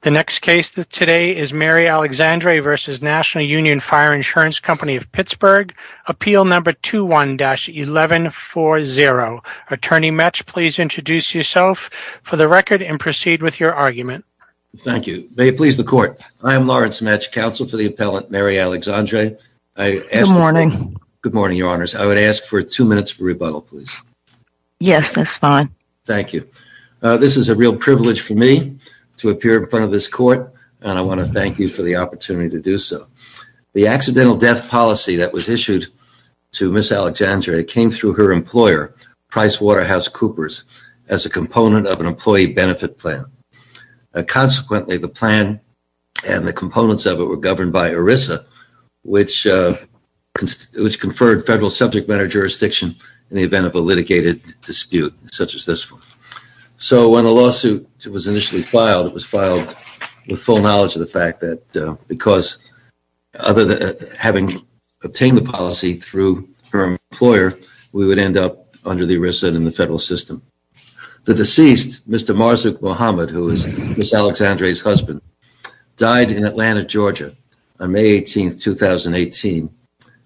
The next case today is Mary Alexandre v. National Union Fire Insurance Company of Pittsburgh. Appeal number 21-1140. Attorney Metsch, please introduce yourself for the record and proceed with your argument. Thank you. May it please the court. I am Lawrence Metsch, counsel for the appellant Mary Alexandre. Good morning. Good morning, your honors. I would ask for two minutes for rebuttal, please. Yes, that's fine. Thank you. This is a real privilege for me to appear in front of this court and I want to thank you for the opportunity to do so. The accidental death policy that was issued to Ms. Alexandre came through her employer, PricewaterhouseCoopers, as a component of an employee benefit plan. Consequently, the plan and the components of it were governed by ERISA, which conferred federal subject matter jurisdiction in the event of a litigated dispute such as this one. So, when the lawsuit was initially filed, it was filed with full knowledge of the fact that because, other than having obtained the policy through her employer, we would end up under the ERISA and in the federal system. The deceased, Mr. on May 18, 2018,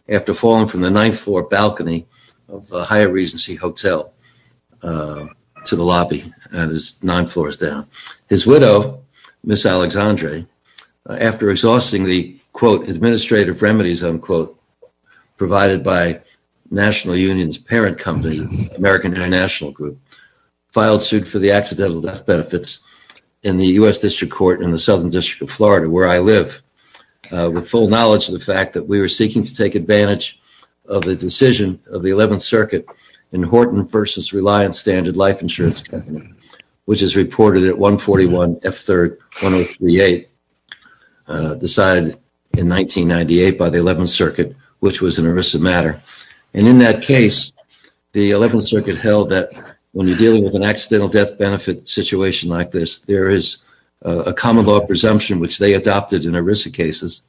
after falling from the ninth floor balcony of the Higher Regency Hotel to the lobby, that is nine floors down. His widow, Ms. Alexandre, after exhausting the administrative remedies provided by National Union's parent company, American International Group, filed suit for the accidental death benefits in the U.S. District Court in the with full knowledge of the fact that we were seeking to take advantage of the decision of the 11th Circuit in Horton v. Reliance Standard Life Insurance Company, which is reported at 141 F. 3rd, 1038, decided in 1998 by the 11th Circuit, which was an ERISA matter. In that case, the 11th Circuit held that when you're dealing with an accidental death benefit situation like this, there is a common law presumption, which they adopted in ERISA cases,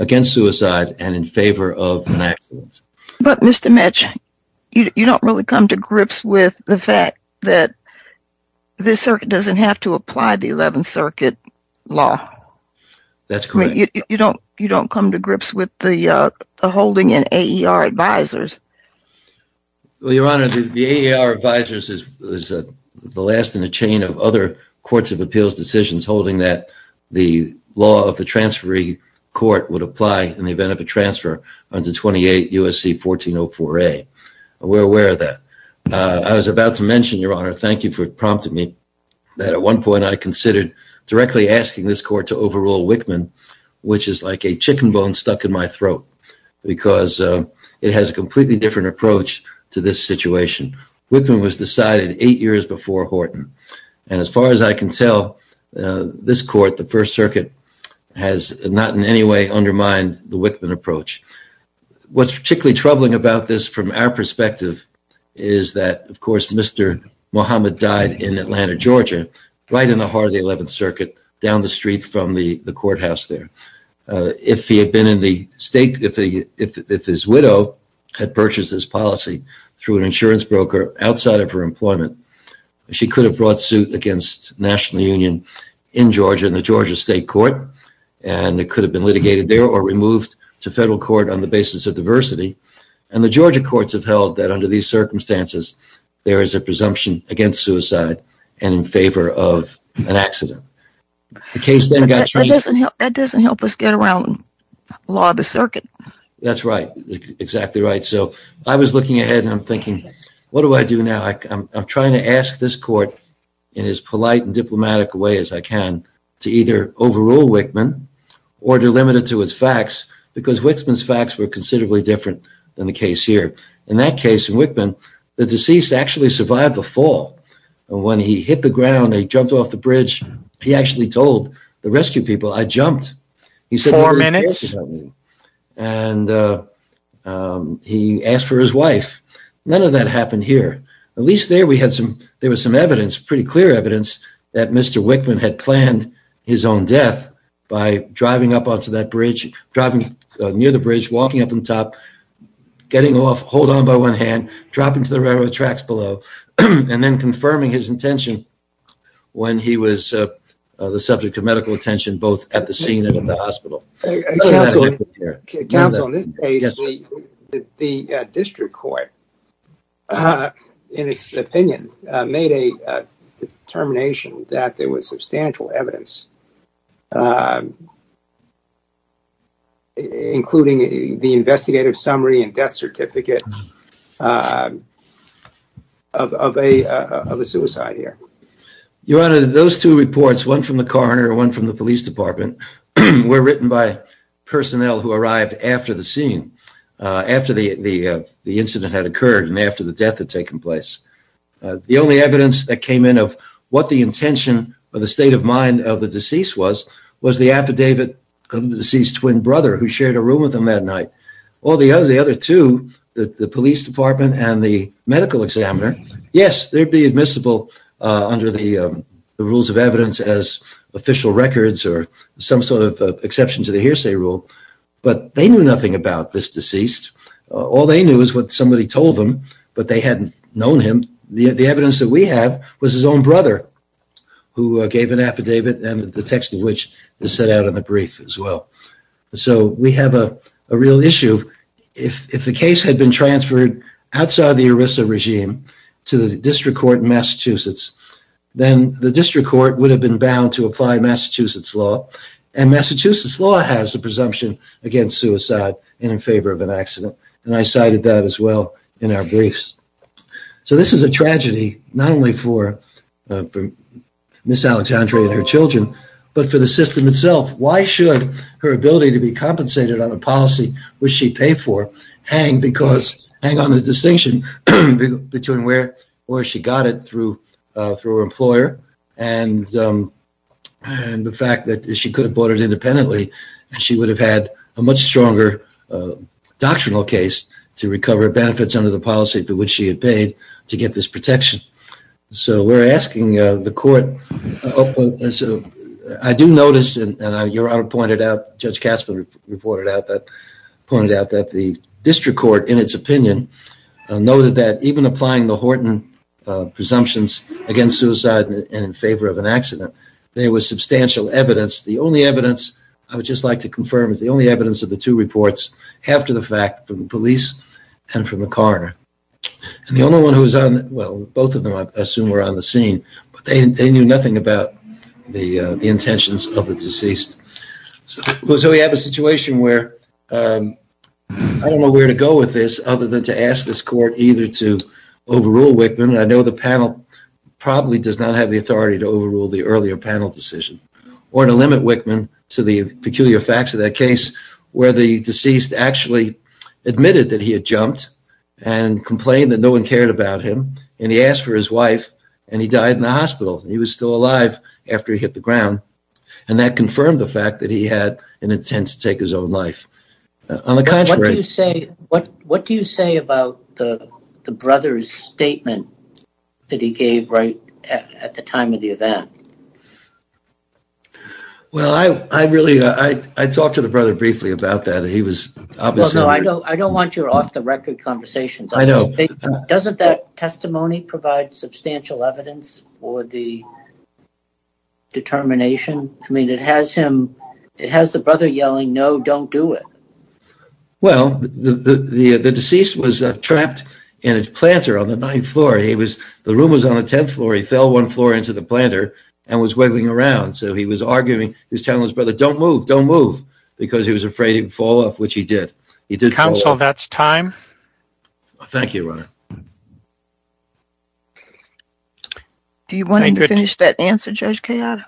against suicide and in favor of an accident. But Mr. Metch, you don't really come to grips with the fact that this circuit doesn't have to apply the 11th Circuit law. That's correct. You don't come to grips with the holding in AER Advisors. Well, Your Honor, the AER Advisors is the last in a chain of other courts of appeals decisions holding that the law of the transferee court would apply in the event of a transfer under 28 U.S.C. 1404A. We're aware of that. I was about to mention, Your Honor, thank you for prompting me, that at one point I considered directly asking this court to overrule Wickman, which is like a chicken bone stuck in my throat, because it has a completely different approach to this situation. Wickman was decided eight years before Horton. And as far as I can tell, this court, the First Circuit, has not in any way undermined the Wickman approach. What's particularly troubling about this from our perspective is that, of course, Mr. Muhammad died in Atlanta, Georgia, right in the heart of the 11th Circuit, down the street from the courthouse there. If he had been in the state, if his widow had purchased this policy through an insurance broker outside of her employment, she could have brought suit against the National Union in Georgia in the Georgia State Court, and it could have been litigated there or removed to federal court on the basis of diversity. And the Georgia courts have held that under these circumstances, there is a presumption against suicide and in favor of an accident. The case then got changed. That doesn't help us get around the law of the right. So I was looking ahead and I'm thinking, what do I do now? I'm trying to ask this court, in as polite and diplomatic way as I can, to either overrule Wickman or to limit it to his facts, because Wickman's facts were considerably different than the case here. In that case, in Wickman, the deceased actually survived the fall. And when he hit the ground, he jumped off the bridge. He actually told the rescue people, I jumped. And he asked for his wife. None of that happened here. At least there we had some, there was some evidence, pretty clear evidence, that Mr. Wickman had planned his own death by driving up onto that bridge, driving near the bridge, walking up on top, getting off, hold on by one hand, dropping to the railroad tracks below, and then confirming his intention when he was the subject of medical attention, both at the scene and at the hospital. Counsel, in this case, the district court, in its opinion, made a determination that there was substantial evidence, including the investigative summary and death certificate, of a suicide here. Your Honor, those two reports, one from the coroner and one from the police department, were written by personnel who arrived after the scene, after the incident had occurred and after the death had taken place. The only evidence that came in of what the intention or the state of mind of the deceased was, was the affidavit of the deceased's twin brother, who shared a room with him that night. All the other, the other two, the police department and the medical examiner, yes, they'd be admissible under the rules of evidence as official records or some sort of exception to the hearsay rule, but they knew nothing about this deceased. All they knew is what somebody told them, but they hadn't known him. The evidence that we have was his own brother who gave an affidavit and the text of which is set out in the brief as well. So we have a real issue. If the case had been transferred outside the ERISA regime to the district court in Massachusetts, then the district court would have been bound to apply Massachusetts law, and Massachusetts law has the presumption against suicide and in favor of an accident, and I cited that as well in our briefs. So this is a tragedy not only for Ms. Alexandre and her ability to be compensated on a policy which she paid for, hang because, hang on the distinction between where, where she got it through, uh, through her employer and, um, and the fact that she could have bought it independently and she would have had a much stronger, uh, doctrinal case to recover benefits under the policy for which she had paid to get this protection. So we're asking, uh, the court, uh, so I do notice, and your honor pointed out, Judge Kasper reported out that, pointed out that the district court in its opinion noted that even applying the Horton, uh, presumptions against suicide and in favor of an accident, there was substantial evidence. The only evidence I would just like to confirm is the only evidence of the two reports after the fact from the police and from the coroner. And the only one who was on, well, both of them I assume were on the scene, but they knew nothing about the, uh, the intentions of the deceased. So we have a situation where, um, I don't know where to go with this other than to ask this court either to overrule Wickman, I know the panel probably does not have the authority to overrule the earlier panel decision, or to limit Wickman to the peculiar facts of that case where the deceased actually admitted that he had jumped and complained that no one cared about him. And he asked for his wife and he died in the hospital. He was still alive after he hit the ground. And that confirmed the fact that he had an intent to take his own life. On the contrary, what do you say about the brother's statement that he gave right at the time of the event? Well, I, I really, uh, I, I talked to the brother briefly about that. He was I don't want your off the record conversations. I know. Doesn't that testimony provide substantial evidence for the determination? I mean, it has him, it has the brother yelling, no, don't do it. Well, the, the, the, the deceased was trapped in his planter on the ninth floor. He was, the room was on the 10th floor. He fell one floor into the planter and was wiggling around. So he was arguing, he was telling his brother, don't move, don't move because he was afraid he'd fall off, which he did. He did. Counsel, that's time. Thank you, Ron. Do you want to finish that answer? Judge Kayada?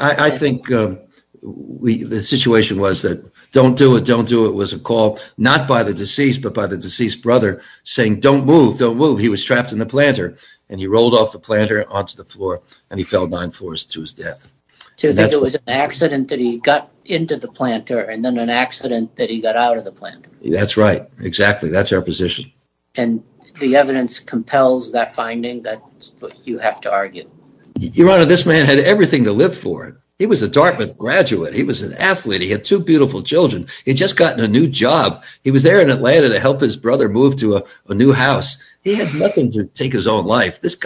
I think, um, we, the situation was that don't do it. Don't do it. It was a call not by the deceased, but by the deceased brother saying, don't move, don't move. He was trapped in the planter and he rolled off the planter onto the floor and he fell nine floors to his death. So there was an accident that he got into the planter and then an accident that he got out of the planter. That's right. Exactly. That's our position. And the evidence compels that finding that you have to argue. Your Honor, this man had everything to live for. He was a Dartmouth graduate. He was an athlete. He had two beautiful children. He'd just gotten a new job. He was there in Atlanta to help his brother move to a new house. He had nothing to take his own life. This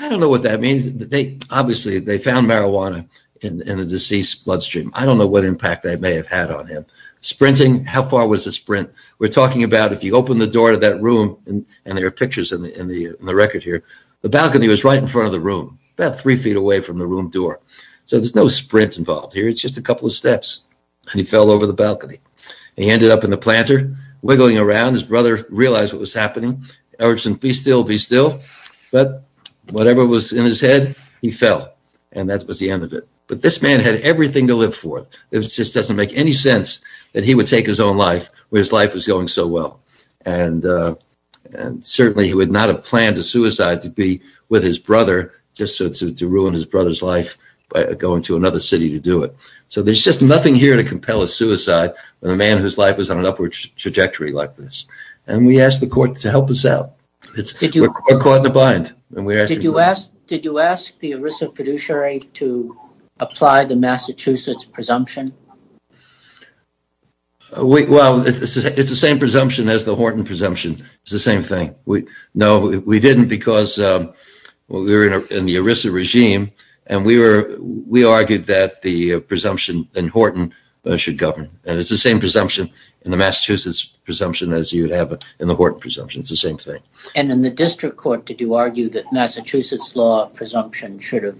I don't know what that means. They obviously, they found marijuana in the deceased bloodstream. I don't know what impact they may have had on him. Sprinting. How far was the sprint? We're talking about if you open the door to that room and there are pictures in the, in the, in the record here, the balcony was right in front of the room, about three feet away from the room door. So there's no sprint involved here. It's just a couple of steps and he fell over the balcony. He ended up in the planter wiggling around. His brother realized what was happening. Erickson, be still, be still. But whatever was in his head, he fell and that was the end of it. But this man had everything to live for. It just doesn't make any sense that he would take his own life where his life was going so well. And certainly he would not have planned a suicide to be with his brother just to ruin his brother's life by going to another city to do it. So there's just nothing here to compel a suicide when a man whose life was on an upward trajectory like this. And we asked the court to help us out. We're caught in a bind. Did you ask the ERISA fiduciary to apply the Massachusetts presumption? Well, it's the same presumption as the Horton presumption. It's the same thing. No, we didn't because we were in the ERISA regime and we argued that the presumption in Horton should govern. And it's the same presumption in the Massachusetts presumption as you'd have in the Horton presumption. It's the same thing. And in the district court, did you argue that Massachusetts law presumption should have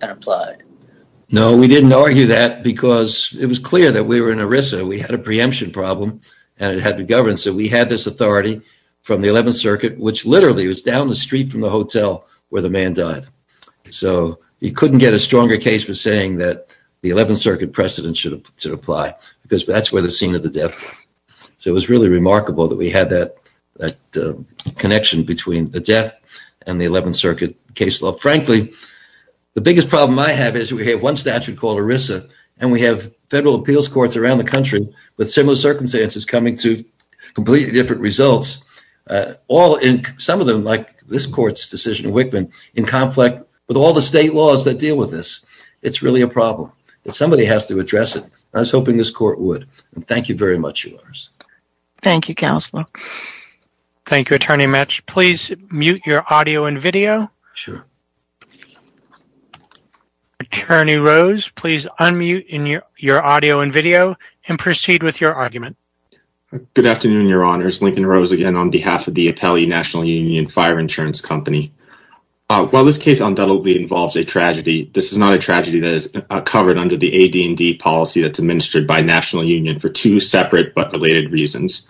been applied? No, we didn't argue that because it was clear that we were in ERISA. We had a preemption problem and it had to govern. So we had this authority from the 11th Circuit, which literally was down the street from the hotel where the man died. So you couldn't get a stronger case for saying that 11th Circuit precedent should apply because that's where the scene of the death was. So it was really remarkable that we had that connection between the death and the 11th Circuit case law. Frankly, the biggest problem I have is we have one statute called ERISA and we have federal appeals courts around the country with similar circumstances coming to completely different results. Some of them, like this court's decision in Wickman, in conflict with all the somebody has to address it. I was hoping this court would. Thank you very much. Thank you, Counselor. Thank you, Attorney Metsch. Please mute your audio and video. Attorney Rose, please unmute your audio and video and proceed with your argument. Good afternoon, Your Honors. Lincoln Rose again on behalf of the Appellee National Union Fire Insurance Company. While this case undoubtedly involves a tragedy, this is not a tragedy that covered under the AD&D policy that's administered by the National Union for two separate but related reasons.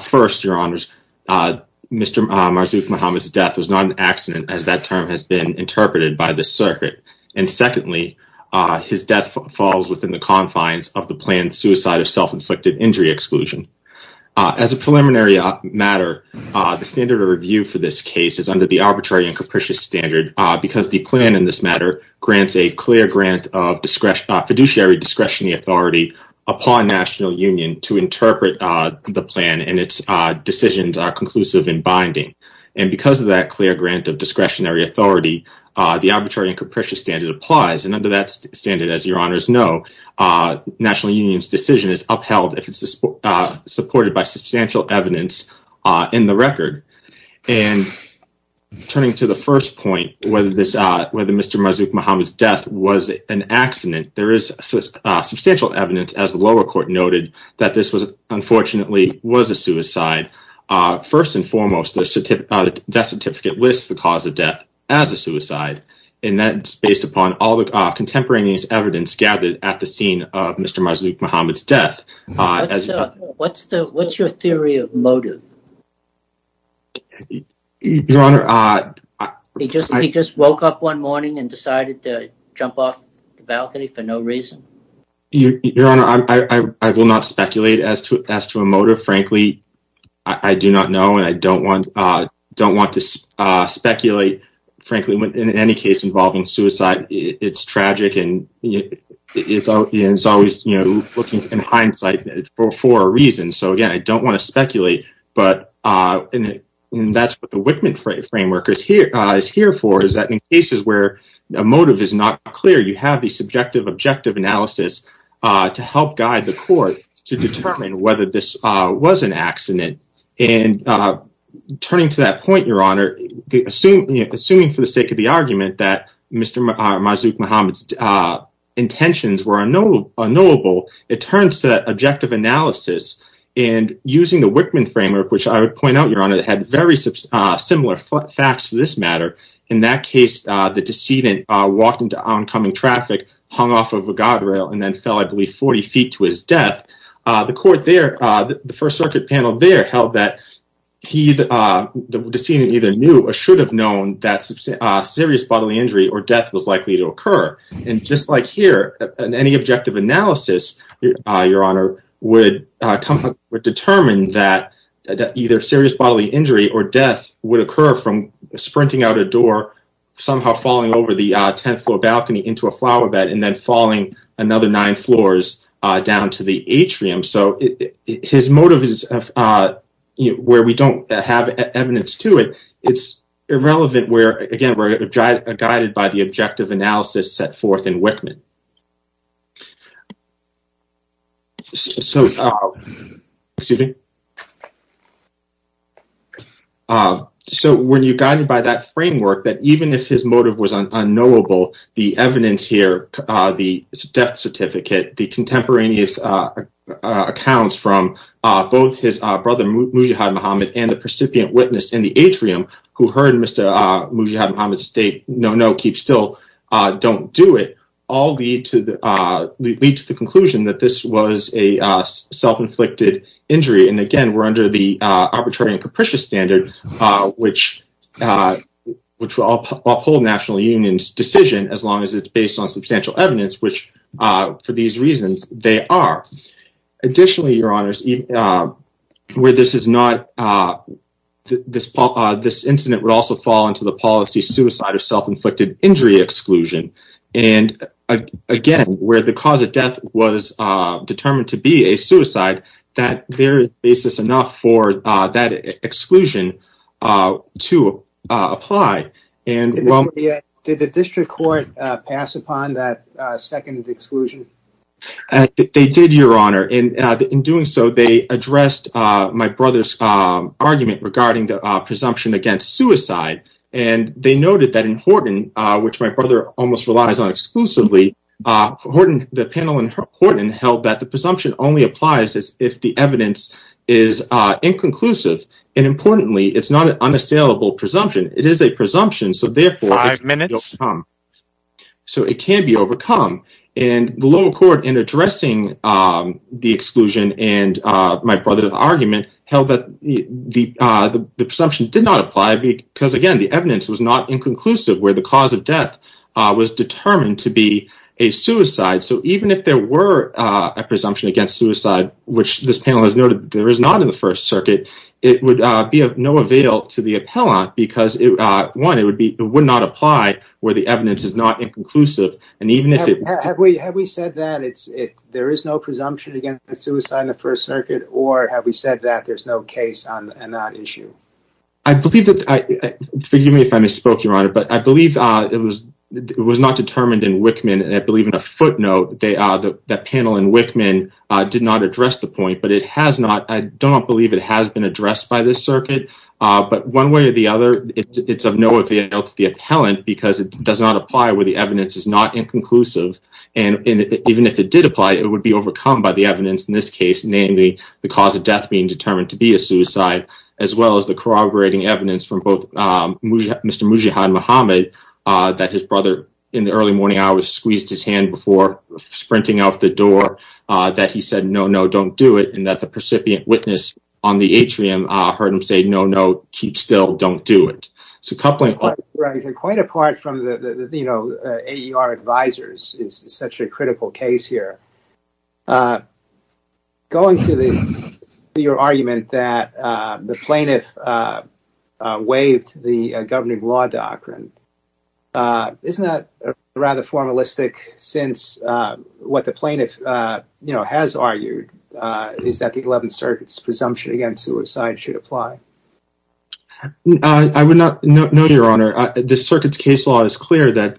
First, Your Honors, Mr. Marzouk Mohamed's death was not an accident as that term has been interpreted by the circuit. And secondly, his death falls within the confines of the planned suicide of self-inflicted injury exclusion. As a preliminary matter, the standard of review for this case is under the arbitrary and capricious standard because the plan in this matter grants a clear grant of discretionary discretionary authority upon National Union to interpret the plan and its decisions are conclusive and binding. And because of that clear grant of discretionary authority, the arbitrary and capricious standard applies. And under that standard, as Your Honors know, National Union's decision is upheld if it's supported by substantial evidence in the record. And turning to the first point, whether this whether Mr. Marzouk Mohamed's was an accident, there is substantial evidence as the lower court noted that this was unfortunately was a suicide. First and foremost, the death certificate lists the cause of death as a suicide and that's based upon all the contemporaneous evidence gathered at the scene of Mr. Marzouk Mohamed's death. What's your theory of motive? Your Honor, he just he just woke up one morning and decided to jump off the balcony for no reason? Your Honor, I will not speculate as to as to a motive. Frankly, I do not know and I don't want to speculate. Frankly, in any case involving suicide, it's tragic and it's always, you know, looking in hindsight for a reason. So again, I don't want to speculate. But that's what the Whitman framework is here for is that in cases where a motive is not clear, you have the subjective objective analysis to help guide the court to determine whether this was an accident. And turning to that point, Your Honor, assuming for the sake of the argument that Mr. Marzouk Mohamed's intentions were unknowable, it turns to that objective analysis and using the Whitman framework, which I would point out, Your Honor, had very similar facts to this matter. In that case, the decedent walked into oncoming traffic, hung off of a guardrail and then fell, I believe, 40 feet to his death. The court there, the First Circuit panel there held that he, the decedent either knew or should have known that serious bodily injury or death was likely to occur. And just like here, in any objective analysis, Your Honor, would determine that either serious bodily injury or death would occur from sprinting out a door, somehow falling over the 10th floor balcony into a flower bed and then falling another nine floors down to the atrium. So his motive is where we don't have evidence to it. It's irrelevant where, again, we're guided by the objective analysis set forth in Whitman. So when you're guided by that framework, that even if his motive was unknowable, the evidence here, the death certificate, the contemporaneous accounts from both his brother, Mujahid Mohamed, and the precipient witness in the atrium who heard Mr. Mujahid Mohamed state, no, no, keep still, don't do it, all lead to the conclusion that this was a self-inflicted injury. And again, we're under the arbitrary and capricious standard, which will uphold National Union's decision as long as it's based on substantial evidence, which for these reasons, they are. Additionally, Your Honors, where this is not, this incident would also fall into the policy suicide or self-inflicted injury exclusion. And again, where the cause of death was determined to be a suicide, that there is basis enough for that exclusion to apply. Did the district court pass upon that second exclusion? I think they did, Your Honor. And in doing so, they addressed my brother's argument regarding the presumption against suicide. And they noted that in Horton, which my brother almost relies on exclusively, the panel in Horton held that the presumption only applies if the evidence is inconclusive. And importantly, it's not an unassailable presumption. It is a presumption, so therefore it can be overcome. And the lower court in addressing the exclusion and my brother's argument held that the presumption did not apply because again, the evidence was not inconclusive where the cause of death was determined to be a suicide. So even if there were a presumption against suicide, which this panel has noted there is not in the First Circuit, it would be of no avail to the appellant because one, it would not apply where the evidence is not inconclusive. Have we said that there is no presumption against suicide in the First Circuit or have we said that there's no case on that issue? Forgive me if I misspoke, Your Honor, but I believe it was not determined in Wickman. And I believe in a footnote that panel in Wickman did not address the point, but it has not, I don't believe it has been addressed by this circuit. But one way or the other, it's of no avail to the appellant because it does not apply where the evidence is not inconclusive. And even if it did apply, it would be overcome by the evidence in this case, namely the cause of death being determined to be a suicide, as well as the corroborating evidence from both Mr. Mujahid Mohammed that his brother in the early morning hours squeezed his hand before sprinting out the door, that he said, no, no, don't do it. And that the percipient witness on the atrium heard him say, no, no, keep still, don't do it. Quite apart from the AER advisors is such a critical case here. Going to your argument that the plaintiff waived the governing law doctrine, uh, isn't that rather formalistic since, uh, what the plaintiff, uh, you know, has argued, uh, is that the 11th circuit's presumption against suicide should apply. I would not know, your honor, the circuit's case law is clear that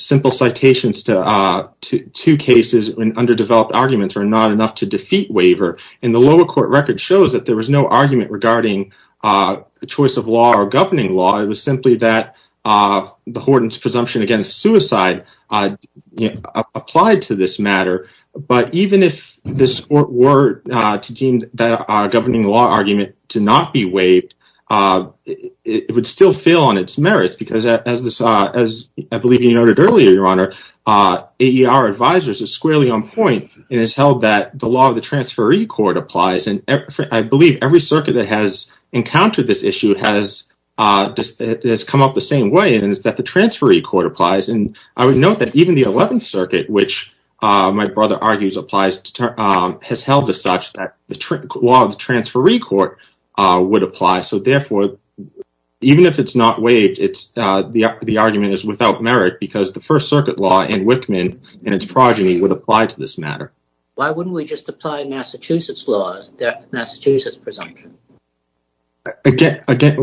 simple citations to, uh, to two cases when underdeveloped arguments are not enough to defeat waiver. And the lower court record shows that there was no argument regarding, uh, the choice of law or governing law. It was the Horton's presumption against suicide, uh, applied to this matter. But even if this were, uh, deemed that, uh, governing law argument to not be waived, uh, it would still fail on its merits because as this, uh, as I believe you noted earlier, your honor, uh, AER advisors are squarely on point and it's held that the law of the transferee court applies. And I believe every circuit that has encountered this issue has, uh, has come up the same way, and it's that the transferee court applies. And I would note that even the 11th circuit, which, uh, my brother argues applies, um, has held to such that the law of the transferee court, uh, would apply. So therefore, even if it's not waived, it's, uh, the, the argument is without merit because the first circuit law in Wickman and its progeny would apply to this matter. Why wouldn't we just apply Massachusetts law, the Massachusetts presumption? Again, again,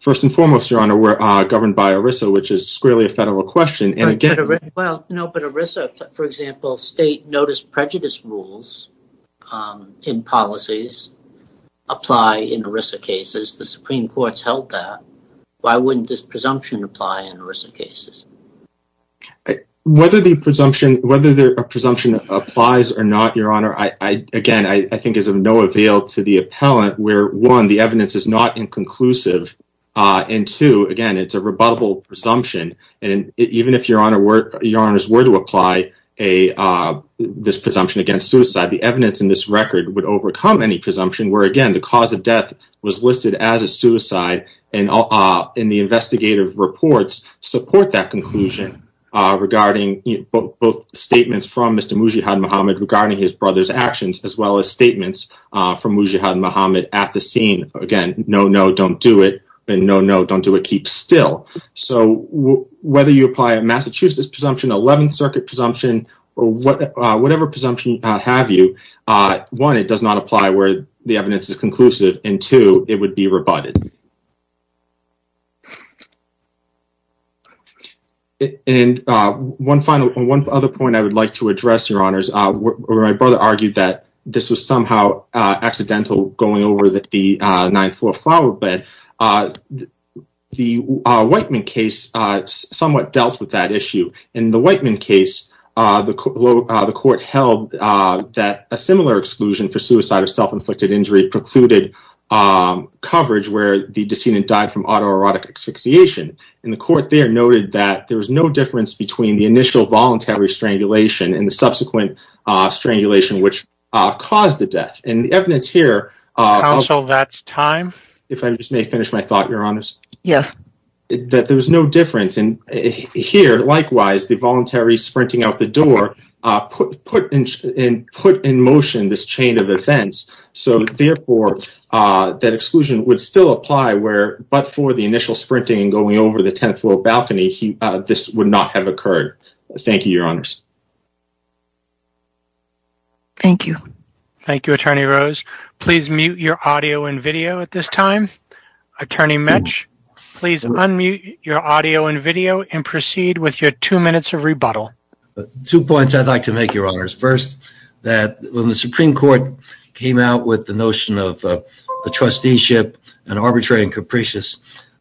first and foremost, your honor, we're, uh, governed by ERISA, which is squarely a federal question. And again, well, no, but ERISA, for example, state notice prejudice rules, um, in policies apply in ERISA cases. The Supreme Court's held that. Why wouldn't this presumption apply in ERISA cases? Whether the presumption, whether a presumption applies or not, your honor, I, I, again, I think is of no avail to the appellant where one, the evidence is not inconclusive, uh, and two, again, it's a rebuttable presumption. And even if your honor were, your honors were to apply a, uh, this presumption against suicide, the evidence in this record would overcome any presumption where, again, the cause of death was listed as a suicide and, uh, in the investigative reports support that conclusion, uh, regarding both statements from Mr. Mujahid Mohammed regarding his brother's actions, as well as statements, uh, from Mujahid Mohammed at the scene. Again, no, no, don't do it. And no, no, don't do it. Keep still. So whether you apply a Massachusetts presumption, 11th circuit presumption, or what, uh, whatever presumption, uh, have you, uh, one, it does not apply where the evidence is conclusive and two, it would be rebutted. And, uh, one final, one other point I would like to address your honors, uh, where my brother argued that this was somehow, uh, accidental going over that the, uh, ninth floor flower bed, uh, the, uh, Whiteman case, uh, somewhat dealt with that issue. In the Whiteman case, uh, the, uh, the court held, uh, that a similar exclusion for suicide or self-inflicted injury precluded, um, coverage where the decedent died from autoerotic asphyxiation. And the court there noted that there was no difference between the initial voluntary strangulation and the subsequent, uh, strangulation, which, uh, caused the death and the evidence here. Uh, counsel, that's time. If I just may finish my thought, your honors. Yes. That there was no difference in here. Likewise, the voluntary sprinting out the door, uh, put, put in, in, put in motion, this chain of events. So therefore, uh, that exclusion would still apply where, but for the initial sprinting and going over the 10th floor balcony, he, uh, this would not have occurred. Thank you, your honors. Thank you. Thank you, attorney Rose. Please mute your audio and video at this time. Attorney Mitch, please unmute your audio and video and proceed with your two minutes of rebuttal. Two points I'd like to make your honors. First, that when the Supreme court came out with the notion of, uh, the trusteeship and arbitrary and capricious,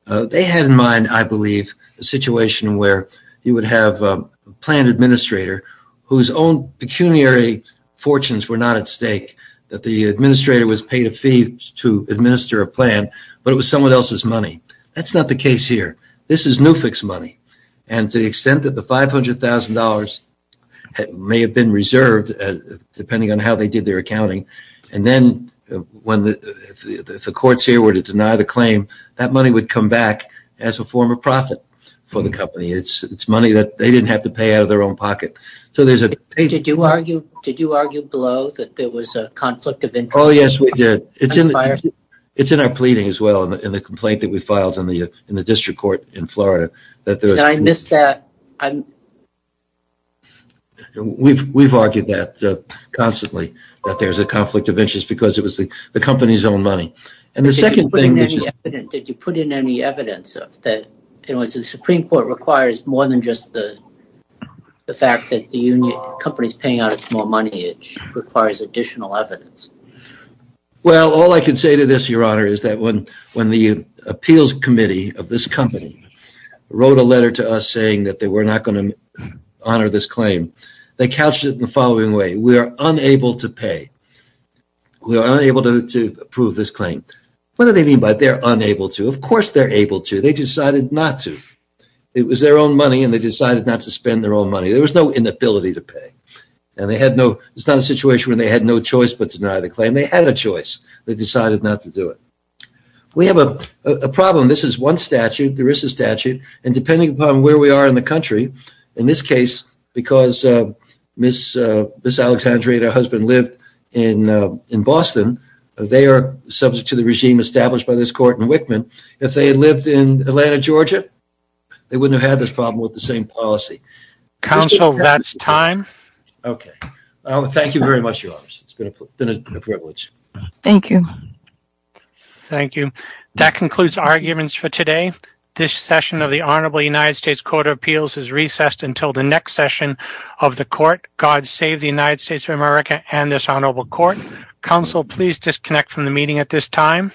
uh, they had in mind, I believe a situation where you would have a plan administrator whose own pecuniary fortunes were not at stake, that the administrator was paid a fee to administer a plan, but it was someone else's money. That's not the case here. This is new fix money. And to the extent that the $500,000 may have been reserved as depending on how they did their accounting. And then when the courts here were to deny the claim, that money would come back as a form of profit for the company. It's it's money that they didn't have to pay out of their own pocket. So there's a, did you argue, did you argue below that there was a conflict of interest? Oh, yes, we did. It's in our pleading as well. And the complaint that we filed on the, uh, in the district court in Florida, that I missed that. We've, we've argued that, uh, constantly that there's a conflict of interest because it was the, the company's own money. And the second thing, did you put in any evidence of that? It was the Supreme court requires more than just the, the fact that the union company's paying out more money, it requires additional evidence. Well, all I can say to this, your honor, is that when, when the appeals committee of this company wrote a letter to us saying that they were not going to honor this claim, they couched it in the following way. We are unable to pay. We are unable to approve this claim. What do they mean by they're unable to, of course they're able to, they decided not to, it was their own money and they decided not to spend their own money. There was no inability to pay and they had no, it's not a situation where they had no choice, but to deny the claim. They had a choice. They decided not to do it. We have a problem. This is one statute. There is a statute. And depending upon where we are in the country, in this case, because, uh, miss, uh, this Alexandria and her husband lived in, uh, in Boston, they are subject to the regime established by this court in Wickman. If they had lived in Atlanta, Georgia, they wouldn't have had this problem with the same policy. Counsel, that's time. Okay. Thank you very much. It's been a privilege. Thank you. Thank you. That concludes arguments for today. This session of the honorable United States court of appeals is recessed until the next session of the court. God save the United States of America and this honorable court council, please disconnect from the meeting at this time.